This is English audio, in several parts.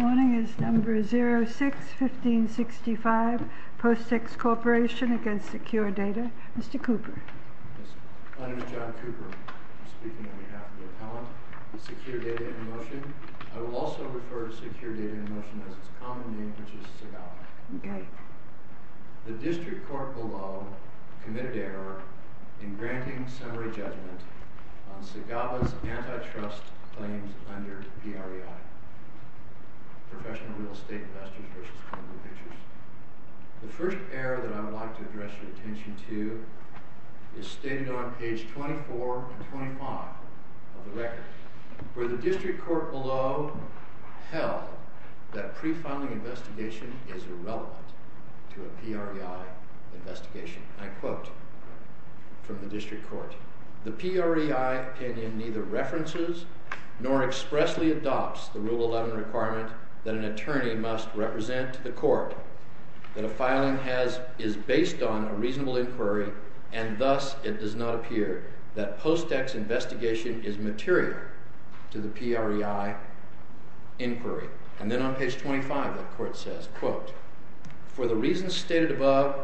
Morning is number 06-1565, Postx Corporation v. Secure Data. Mr. Cooper. My name is John Cooper. I'm speaking on behalf of the appellant of Secure Data in Motion. I will also refer to Secure Data in Motion as its common name, which is SIGAVA. The District Court below committed error in granting summary judgment on SIGAVA's antitrust claims under PREI. Professional Real Estate Investors v. Columbia Pictures. The first error that I would like to address your attention to is stated on page 24 and 25 of the record, where the District Court below held that pre-filing investigation is irrelevant to a PREI investigation. I quote from the District Court. The PREI opinion neither references nor expressly adopts the Rule 11 requirement that an attorney must represent to the court that a filing is based on a reasonable inquiry and thus it does not appear that Postx investigation is material to the PREI inquiry. And then on page 25, the Court says, quote, For the reasons stated above,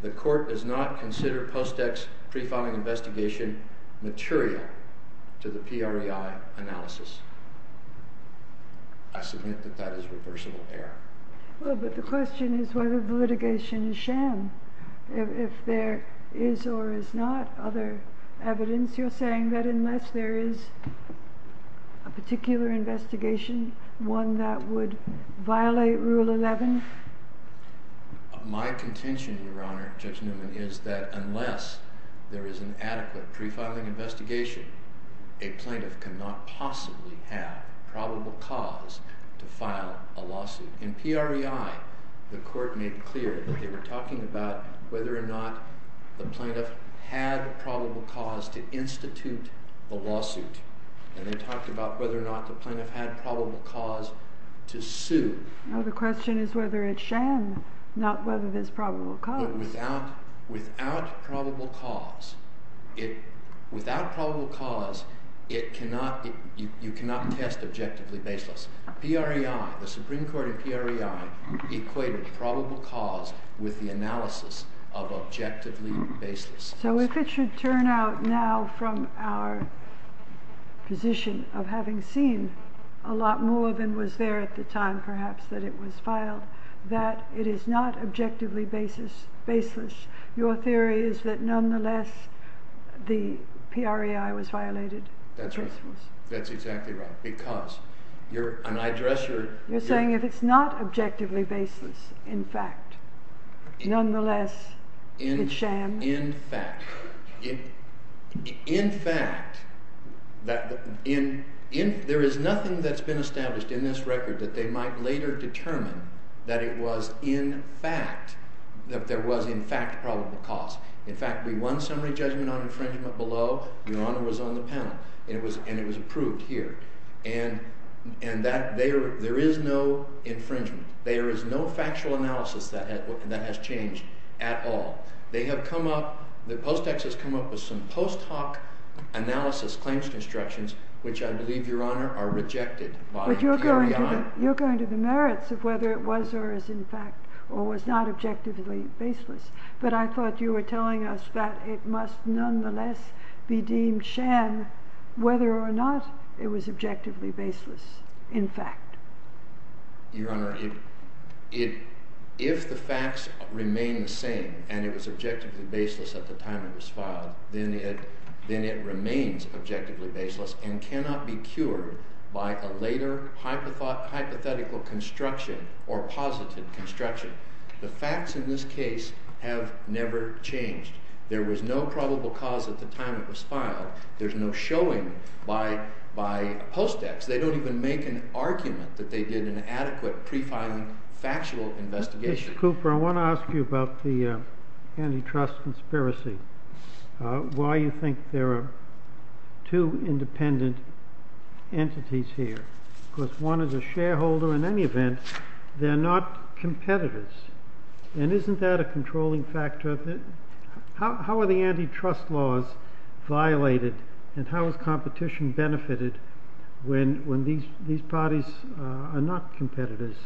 the Court does not consider Postx pre-filing investigation material to the PREI analysis. I submit that that is a reversible error. Well, but the question is whether the litigation is sham. If there is or is not other evidence, you're saying that unless there is a particular investigation, one that would violate Rule 11? My contention, Your Honor, Judge Newman, is that unless there is an adequate pre-filing investigation, a plaintiff cannot possibly have probable cause to file a lawsuit. In PREI, the Court made clear that they were talking about whether or not the plaintiff had probable cause to institute a lawsuit. And they talked about whether or not the plaintiff had probable cause to sue. No, the question is whether it's sham, not whether there's probable cause. But without probable cause, you cannot test objectively baseless. PREI, the Supreme Court in PREI, equated probable cause with the analysis of objectively baseless. So if it should turn out now from our position of having seen a lot more than was there at the time, perhaps, that it was filed, that it is not objectively baseless, your theory is that nonetheless the PREI was violated? That's right. That's exactly right. Because you're an eye dresser. You're saying if it's not objectively baseless, in fact, nonetheless it's sham? In fact. In fact. There is nothing that's been established in this record that they might later determine that it was in fact, that there was in fact probable cause. In fact, we won summary judgment on infringement below. Your Honor was on the panel. And it was approved here. And there is no infringement. There is no factual analysis that has changed at all. They have come up, the post text has come up with some post hoc analysis claims constructions, which I believe, Your Honor, are rejected by PREI. But you're going to the merits of whether it was or is in fact, or was not objectively baseless. But I thought you were telling us that it must nonetheless be deemed sham whether or not it was objectively baseless, in fact. Your Honor, if the facts remain the same and it was objectively baseless at the time it was filed, then it remains objectively baseless and cannot be cured by a later hypothetical construction or positive construction. The facts in this case have never changed. There was no probable cause at the time it was filed. There's no showing by post text. They don't even make an argument that they did an adequate pre filing factual investigation. Mr. Cooper, I want to ask you about the antitrust conspiracy. Why you think there are two independent entities here? Because one is a shareholder. In any event, they're not competitors. And isn't that a controlling factor? How are the antitrust laws violated? And how is competition benefited when these parties are not competitors?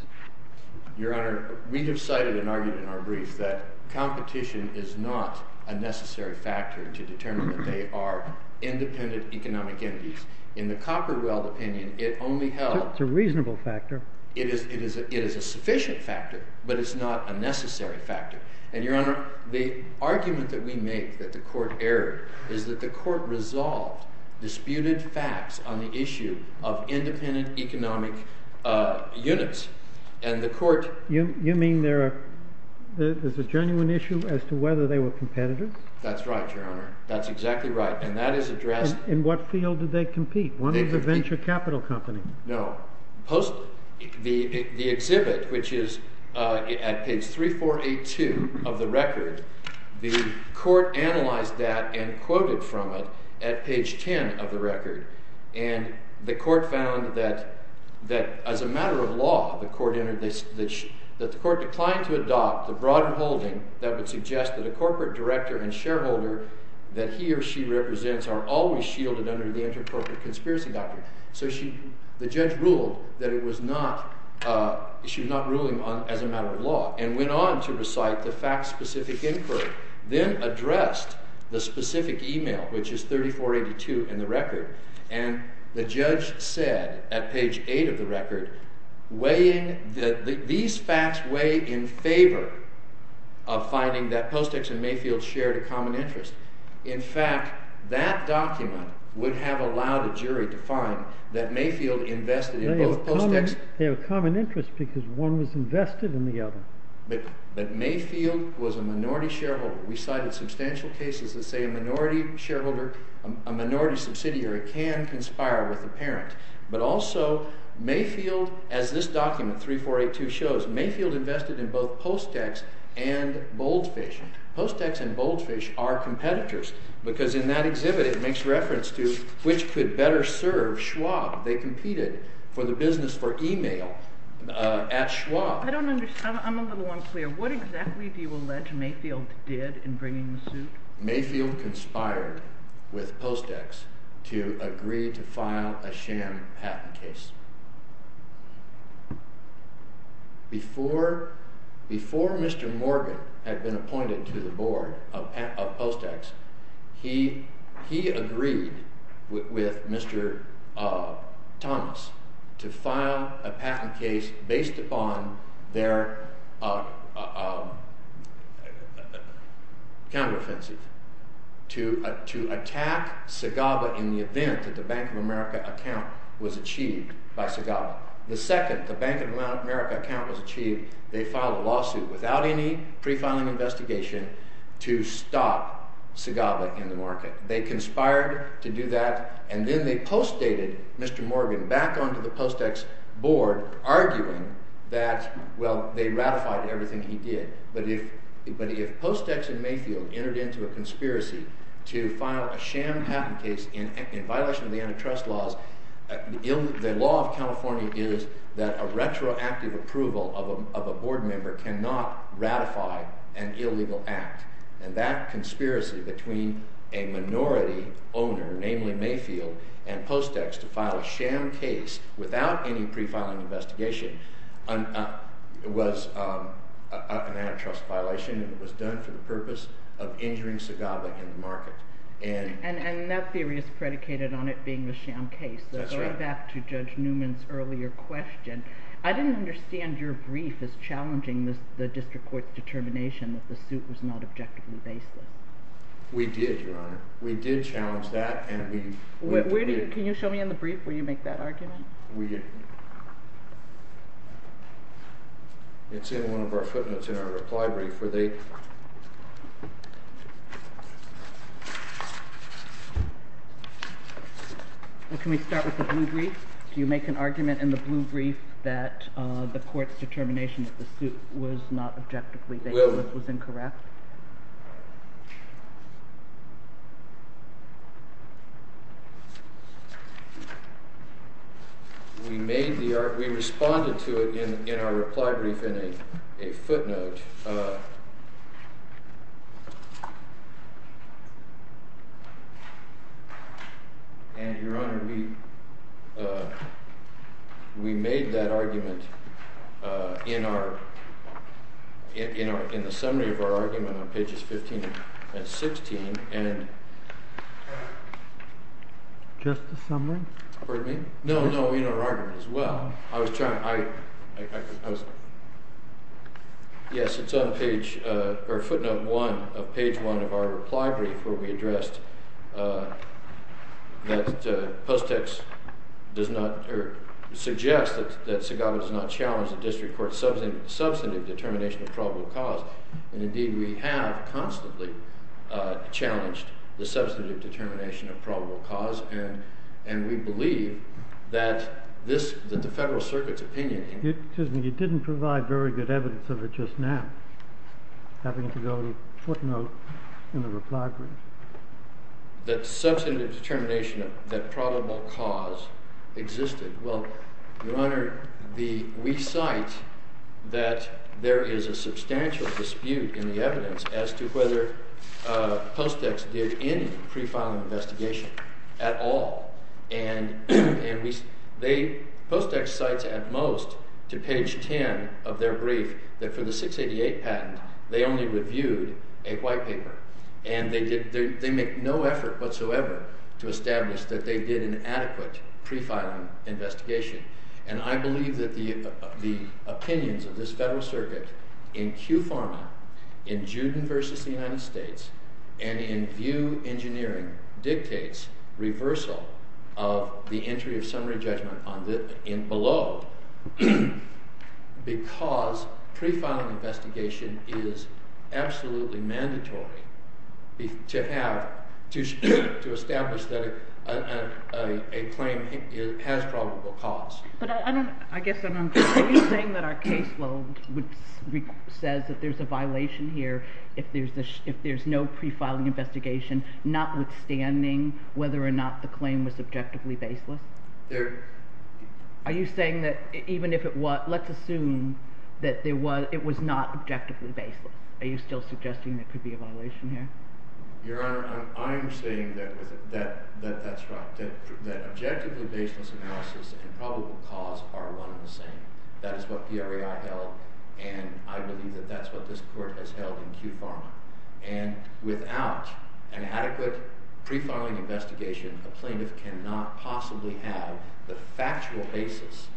Your Honor, we have cited and argued in our brief that competition is not a necessary factor to determine that they are independent economic entities. In the Copperwell opinion, it only held— It's a reasonable factor. It is a sufficient factor, but it's not a necessary factor. And, Your Honor, the argument that we make that the Court erred is that the Court resolved disputed facts on the issue of independent economic units. And the Court— You mean there's a genuine issue as to whether they were competitors? That's right, Your Honor. That's exactly right. And that is addressed— In what field did they compete? One is a venture capital company. No. The exhibit, which is at page 3482 of the record, the Court analyzed that and quoted from it at page 10 of the record. And the Court found that as a matter of law, that the Court declined to adopt the broader holding that would suggest that a corporate director and shareholder that he or she represents are always shielded under the intercorporate conspiracy doctrine. So the judge ruled that it was not—she was not ruling as a matter of law and went on to recite the fact-specific inquiry, then addressed the specific email, which is 3482 in the record. And the judge said at page 8 of the record, weighing—these facts weigh in favor of finding that Postex and Mayfield shared a common interest. In fact, that document would have allowed a jury to find that Mayfield invested in both Postex— They have a common interest because one was invested in the other. But Mayfield was a minority shareholder. We cited substantial cases that say a minority shareholder, a minority subsidiary, can conspire with a parent. But also Mayfield, as this document, 3482, shows, Mayfield invested in both Postex and Boldfish. Postex and Boldfish are competitors because in that exhibit it makes reference to which could better serve Schwab. They competed for the business for email at Schwab. I don't understand. I'm a little unclear. What exactly do you allege Mayfield did in bringing the suit? Mayfield conspired with Postex to agree to file a sham patent case. Before Mr. Morgan had been appointed to the board of Postex, he agreed with Mr. Thomas to file a patent case based upon their counteroffensive. To attack Sagaba in the event that the Bank of America account was achieved by Sagaba. The second, the Bank of America account was achieved, they filed a lawsuit without any pre-filing investigation to stop Sagaba in the market. They conspired to do that, and then they postdated Mr. Morgan back onto the Postex board arguing that, well, they ratified everything he did. But if Postex and Mayfield entered into a conspiracy to file a sham patent case in violation of the antitrust laws, the law of California is that a retroactive approval of a board member cannot ratify an illegal act. And that conspiracy between a minority owner, namely Mayfield, and Postex to file a sham case without any pre-filing investigation was an antitrust violation. It was done for the purpose of injuring Sagaba in the market. And that theory is predicated on it being a sham case. That's right. Let's go back to Judge Newman's earlier question. I didn't understand your brief as challenging the district court's determination that the suit was not objectively baseless. We did, Your Honor. We did challenge that. Can you show me in the brief where you make that argument? It's in one of our footnotes in our reply brief. Can we start with the blue brief? Do you make an argument in the blue brief that the court's determination that the suit was not objectively baseless was incorrect? We responded to it in our reply brief in a footnote. And, Your Honor, we made that argument in the summary of our argument on pages 15 and 16. Just the summary? Pardon me? No, no, in our argument as well. Yes, it's on footnote 1 of page 1 of our reply brief where we addressed that Post X suggests that Sagaba does not challenge the district court's substantive determination of probable cause. And, indeed, we have constantly challenged the substantive determination of probable cause. And we believe that the Federal Circuit's opinion… Excuse me, you didn't provide very good evidence of it just now, having to go to footnote in the reply brief. …that substantive determination that probable cause existed. Well, Your Honor, we cite that there is a substantial dispute in the evidence as to whether Post X did any pre-filing investigation at all. And Post X cites at most to page 10 of their brief that for the 688 patent they only reviewed a white paper. And they make no effort whatsoever to establish that they did an adequate pre-filing investigation. And I believe that the opinions of this Federal Circuit in QFARMA, in Juden v. the United States, and in VIEW Engineering dictates reversal of the entry of summary judgment below. Because pre-filing investigation is absolutely mandatory to have, to establish that a claim has probable cause. But I don't, I guess, are you saying that our caseload says that there's a violation here if there's no pre-filing investigation, notwithstanding whether or not the claim was objectively baseless? Are you saying that even if it was, let's assume that it was not objectively baseless, are you still suggesting there could be a violation here? Your Honor, I'm saying that that's right, that objectively baseless analysis and probable cause are one and the same. That is what PRAI held, and I believe that that's what this Court has held in QFARMA. And without an adequate pre-filing investigation, a plaintiff cannot possibly have the factual basis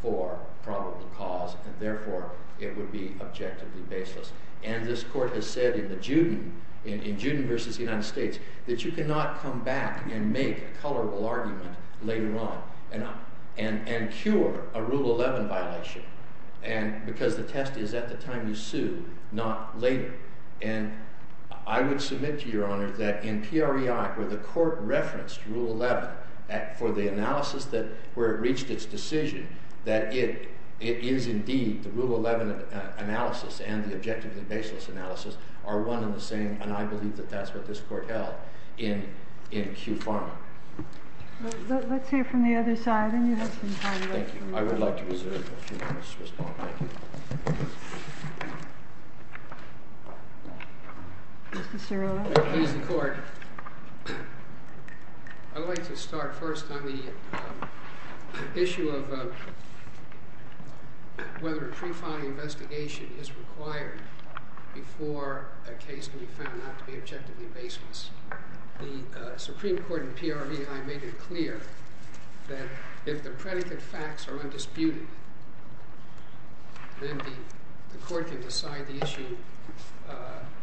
for probable cause, and therefore it would be objectively baseless. And this Court has said in Juden v. the United States that you cannot come back and make a colorable argument later on and cure a Rule 11 violation, because the test is at the time you sue, not later. And I would submit to Your Honor that in PRAI, where the Court referenced Rule 11 for the analysis where it reached its decision, that it is indeed the Rule 11 analysis and the objectively baseless analysis are one and the same. And I believe that that's what this Court held in QFARMA. Let's hear from the other side. Thank you. I would like to reserve a few minutes to respond. Thank you. Mr. Cerullo. Please, the Court. I'd like to start first on the issue of whether a pre-filing investigation is required before a case can be found not to be objectively baseless. The Supreme Court in PRAI made it clear that if the predicate facts are undisputed, then the Court can decide the issue,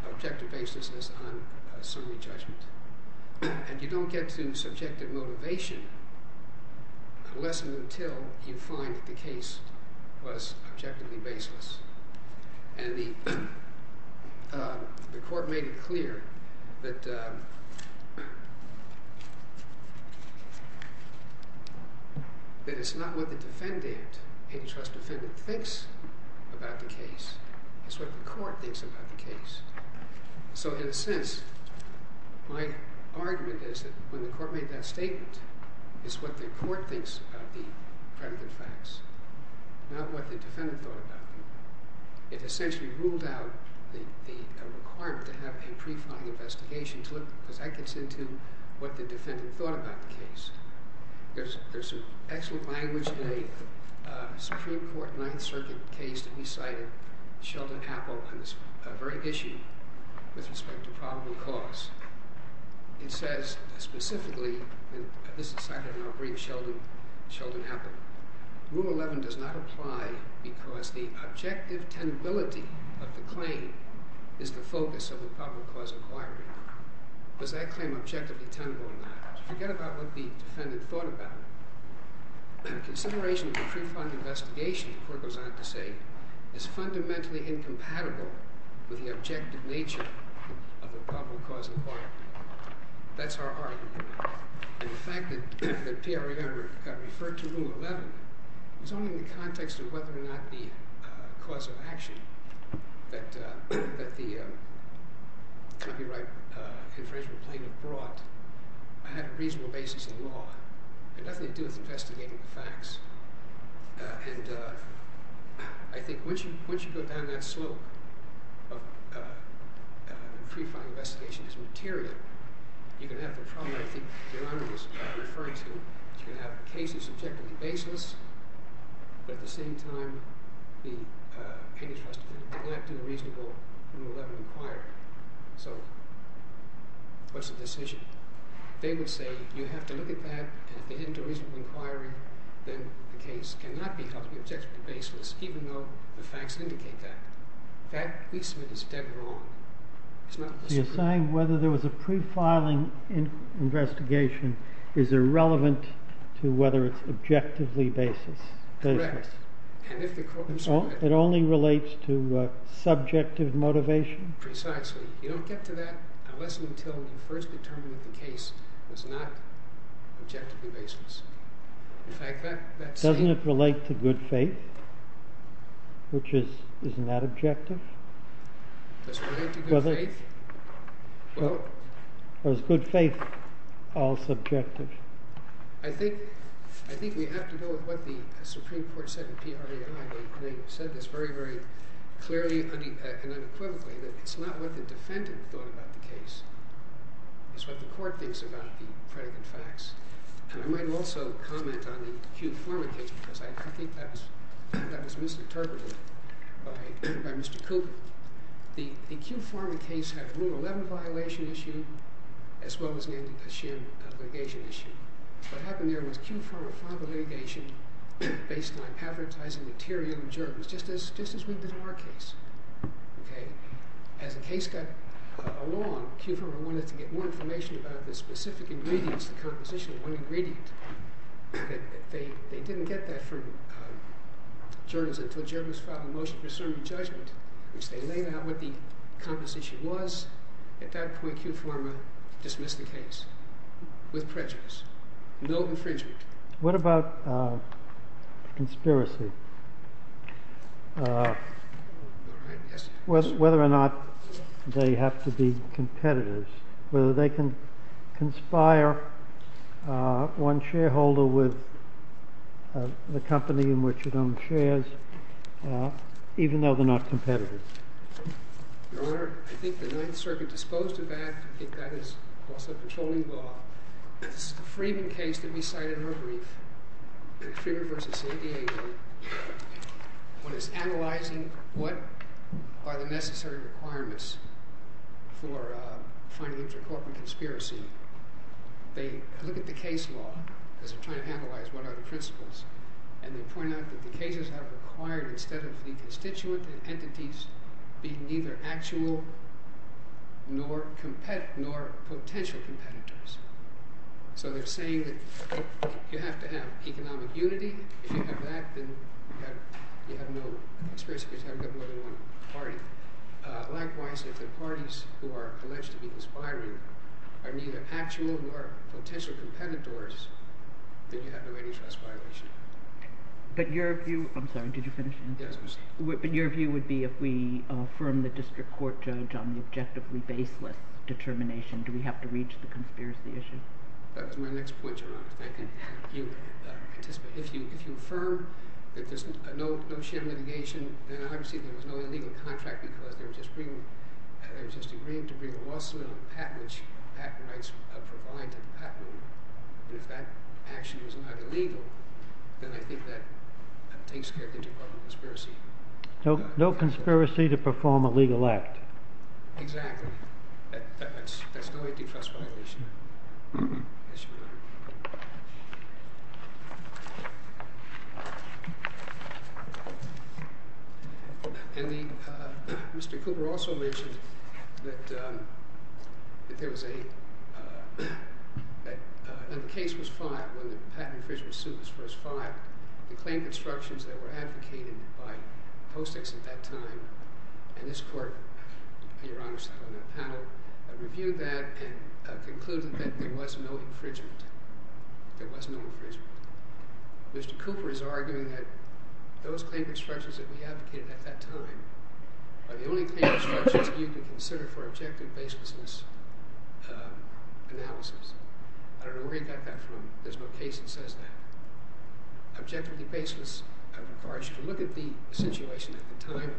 objective baselessness, on summary judgment. And you don't get to subjective motivation unless and until you find that the case was objectively baseless. And the Court made it clear that it's not what the defendant, a trust defendant, thinks about the case. It's what the Court thinks about the case. So in a sense, my argument is that when the Court made that statement, it's what the Court thinks about the predicate facts, not what the defendant thought about them. It essentially ruled out the requirement to have a pre-filing investigation because that gets into what the defendant thought about the case. There's some excellent language in a Supreme Court Ninth Circuit case that we cited, Sheldon Appel, on this very issue with respect to probable cause. It says specifically, and this is cited in our brief, Sheldon Appel, Rule 11 does not apply because the objective tenability of the claim is the focus of the probable cause inquiry. Does that claim objectively tenable or not? Forget about what the defendant thought about it. Consideration of a pre-filed investigation, the Court goes on to say, is fundamentally incompatible with the objective nature of the probable cause inquiry. That's our argument. The fact that P.R. Yammer referred to Rule 11 was only in the context of whether or not the cause of action that the copyright infringement claim had brought had a reasonable basis in law. It had nothing to do with investigating the facts. And I think once you go down that slope of pre-filing investigation as material, you're going to have the problem, I think, that Your Honor was referring to. You're going to have a case that's objectively baseless, but at the same time, the plaintiff has to do a reasonable Rule 11 inquiry. So what's the decision? They would say, you have to look at that, and if they didn't do a reasonable inquiry, then the case cannot be held to be objectively baseless, even though the facts indicate that. That, we submit, is dead wrong. It's not the Supreme Court. The assigned whether there was a pre-filing investigation is irrelevant to whether it's objectively baseless. Correct. And if the court was correct. It only relates to subjective motivation? Precisely. You don't get to that unless and until you first determine that the case was not objectively baseless. In fact, that same- Doesn't it relate to good faith? Which is not objective? Does it relate to good faith? Well- Or is good faith all subjective? I think we have to go with what the Supreme Court said in PREI. They said this very, very clearly and unequivocally, that it's not what the defendant thought about the case. It's what the court thinks about the predicate facts. And I might also comment on the Kew Pharma case, because I think that was misinterpreted by Mr. Cooper. The Kew Pharma case had a Rule 11 violation issue, as well as a sham litigation issue. What happened there was Kew Pharma filed a litigation based on advertising material in journals, just as we did in our case. As the case got along, Kew Pharma wanted to get more information about the specific ingredients, the composition of one ingredient. They didn't get that from journals until journals filed a motion for certain judgment, which they laid out what the composition was. At that point, Kew Pharma dismissed the case with prejudice. No infringement. What about conspiracy, whether or not they have to be competitors, whether they can conspire one shareholder with the company in which it owns shares, even though they're not competitors? Your Honor, I think the Ninth Circuit disposed of that. I think that is also patrolling law. This is the Freeman case that we cited in our brief. Freeman v. San Diego. When it's analyzing what are the necessary requirements for finding a corporate conspiracy, they look at the case law because they're trying to analyze what are the principles. And they point out that the cases have required, instead of the constituent entities being neither actual nor potential competitors. So they're saying that you have to have economic unity. If you have that, then you have no experience because you haven't got more than one party. Likewise, if the parties who are alleged to be conspiring are neither actual nor potential competitors, then you have no antitrust violation. But your view would be if we affirm the district court judge on the objectively baseless determination, do we have to reach the conspiracy issue? That was my next point, Your Honor. If you affirm that there's no sham litigation, then obviously there was no illegal contract because they were just agreeing to bring a lawsuit on a patent which patent rights provide to the patent. And if that action was not illegal, then I think that takes care of the Department of Conspiracy. No conspiracy to perform a legal act. Exactly. That's no antitrust violation. Yes, Your Honor. And Mr. Cooper also mentioned that there was a – that the case was filed when the patent official was sued. The claim constructions that were advocated by Post-Its at that time and this court, Your Honor, reviewed that and concluded that there was no infringement. There was no infringement. Mr. Cooper is arguing that those claim constructions that we advocated at that time are the only claim constructions you can consider for objective baseless analysis. I don't know where he got that from. There's no case that says that. Objectivity baseless requires you to look at the situation at the time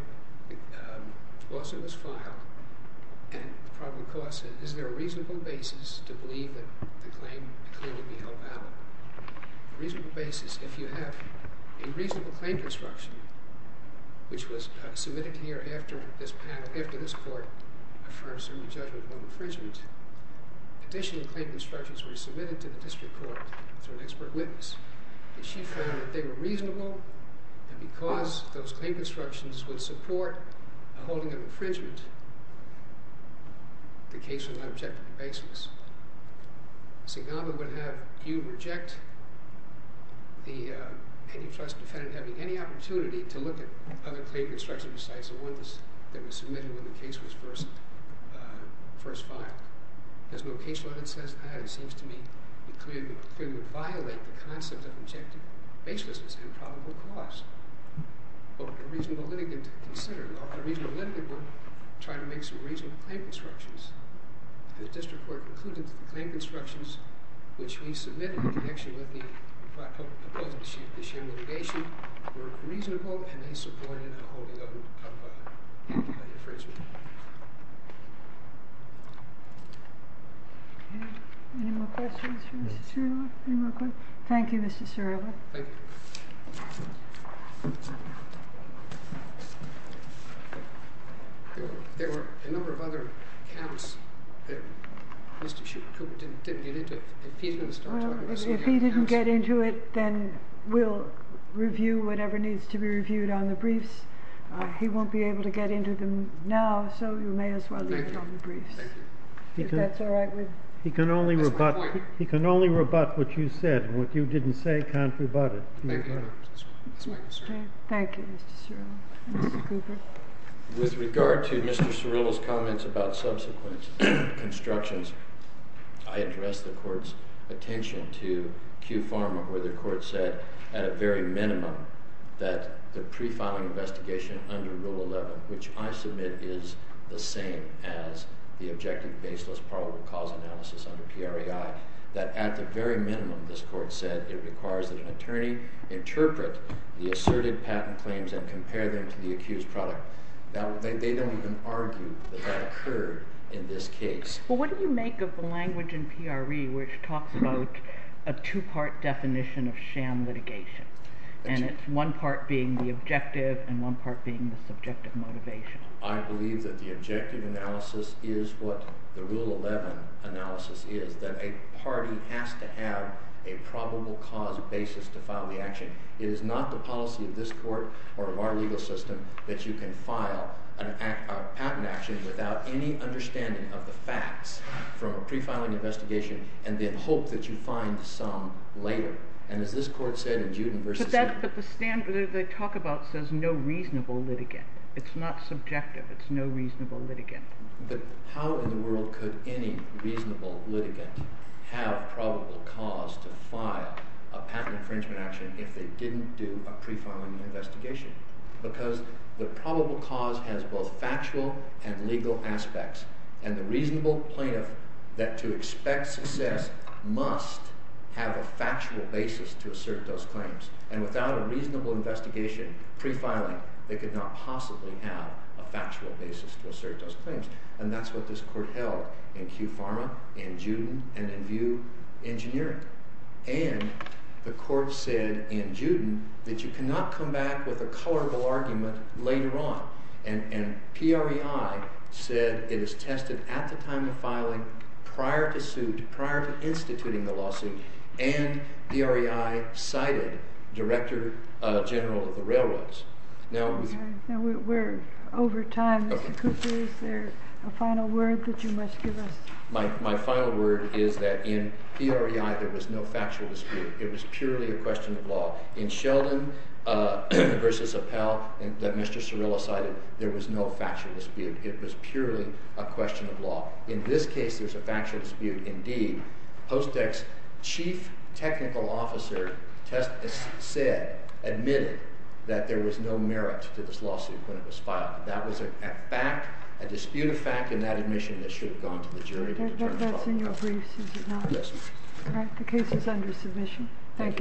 the lawsuit was filed and the problem of course is, is there a reasonable basis to believe that the claim would be held valid? A reasonable basis, if you have a reasonable claim construction, which was submitted here after this panel, after this court affirmed a certain judgment on infringement. Additional claim constructions were submitted to the district court through an expert witness. And she found that they were reasonable and because those claim constructions would support a holding of infringement, the case was not objective baseless. St. Gamba would have you reject the antitrust defendant having any opportunity to look at other claim constructions besides the one that was submitted when the case was first filed. There's no case law that says that. It seems to me it clearly would violate the concept of objective baselessness and probable cause. A reasonable litigant would consider it. A reasonable litigant would try to make some reasonable claim constructions. The district court concluded that the claim constructions which we submitted in connection with the Black Hope proposal this year, the litigation, were reasonable and they supported a holding of infringement. Any more questions for Mr. Cirola? Thank you, Mr. Cirola. Thank you. There were a number of other counts that Mr. Cooper didn't get into. If he didn't get into it, then we'll review whatever needs to be reviewed on the briefs. He won't be able to get into them now, so you may as well leave it on the briefs. If that's all right with you. He can only rebut what you said. And what you didn't say can't be rebutted. Thank you, Mr. Cirola. Mr. Cooper. With regard to Mr. Cirola's comments about subsequent constructions, I address the court's attention to Q Pharma where the court said at a very minimum that the pre-filing investigation under Rule 11, which I submit is the same as the objective baseless probable cause analysis under PRAI, that at the very minimum, this court said, it requires that an attorney interpret the asserted patent claims and compare them to the accused product. Now, they don't even argue that that occurred in this case. Well, what do you make of the language in PRA which talks about a two-part definition of sham litigation? And it's one part being the objective and one part being the subjective motivation. I believe that the objective analysis is what the Rule 11 analysis is, that a party has to have a probable cause basis to file the action. It is not the policy of this court or of our legal system that you can file a patent action without any understanding of the facts from a pre-filing investigation and then hope that you find some later. And as this court said in Juden v. – But the standard that they talk about says no reasonable litigant. It's not subjective. It's no reasonable litigant. But how in the world could any reasonable litigant have probable cause to file a patent infringement action if they didn't do a pre-filing investigation? Because the probable cause has both factual and legal aspects. And the reasonable plaintiff that to expect success must have a factual basis to assert those claims. And without a reasonable investigation pre-filing, they could not possibly have a factual basis to assert those claims. And that's what this court held in Kew Pharma, in Juden, and in Vue Engineering. And the court said in Juden that you cannot come back with a colorable argument later on. And PREI said it is tested at the time of filing, prior to suit, prior to instituting the lawsuit. And PREI cited Director General of the Railroads. Now we're over time. Mr. Cooper, is there a final word that you must give us? My final word is that in PREI, there was no factual dispute. It was purely a question of law. In Sheldon v. Appel, that Mr. Cirillo cited, there was no factual dispute. It was purely a question of law. In this case, there's a factual dispute indeed. Post-ex chief technical officer said, admitted, that there was no merit to this lawsuit when it was filed. That was a fact, a dispute of fact, in that admission that should have gone to the jury. That's in your briefs, is it not? Yes, ma'am. All right, the case is under submission. Thank you.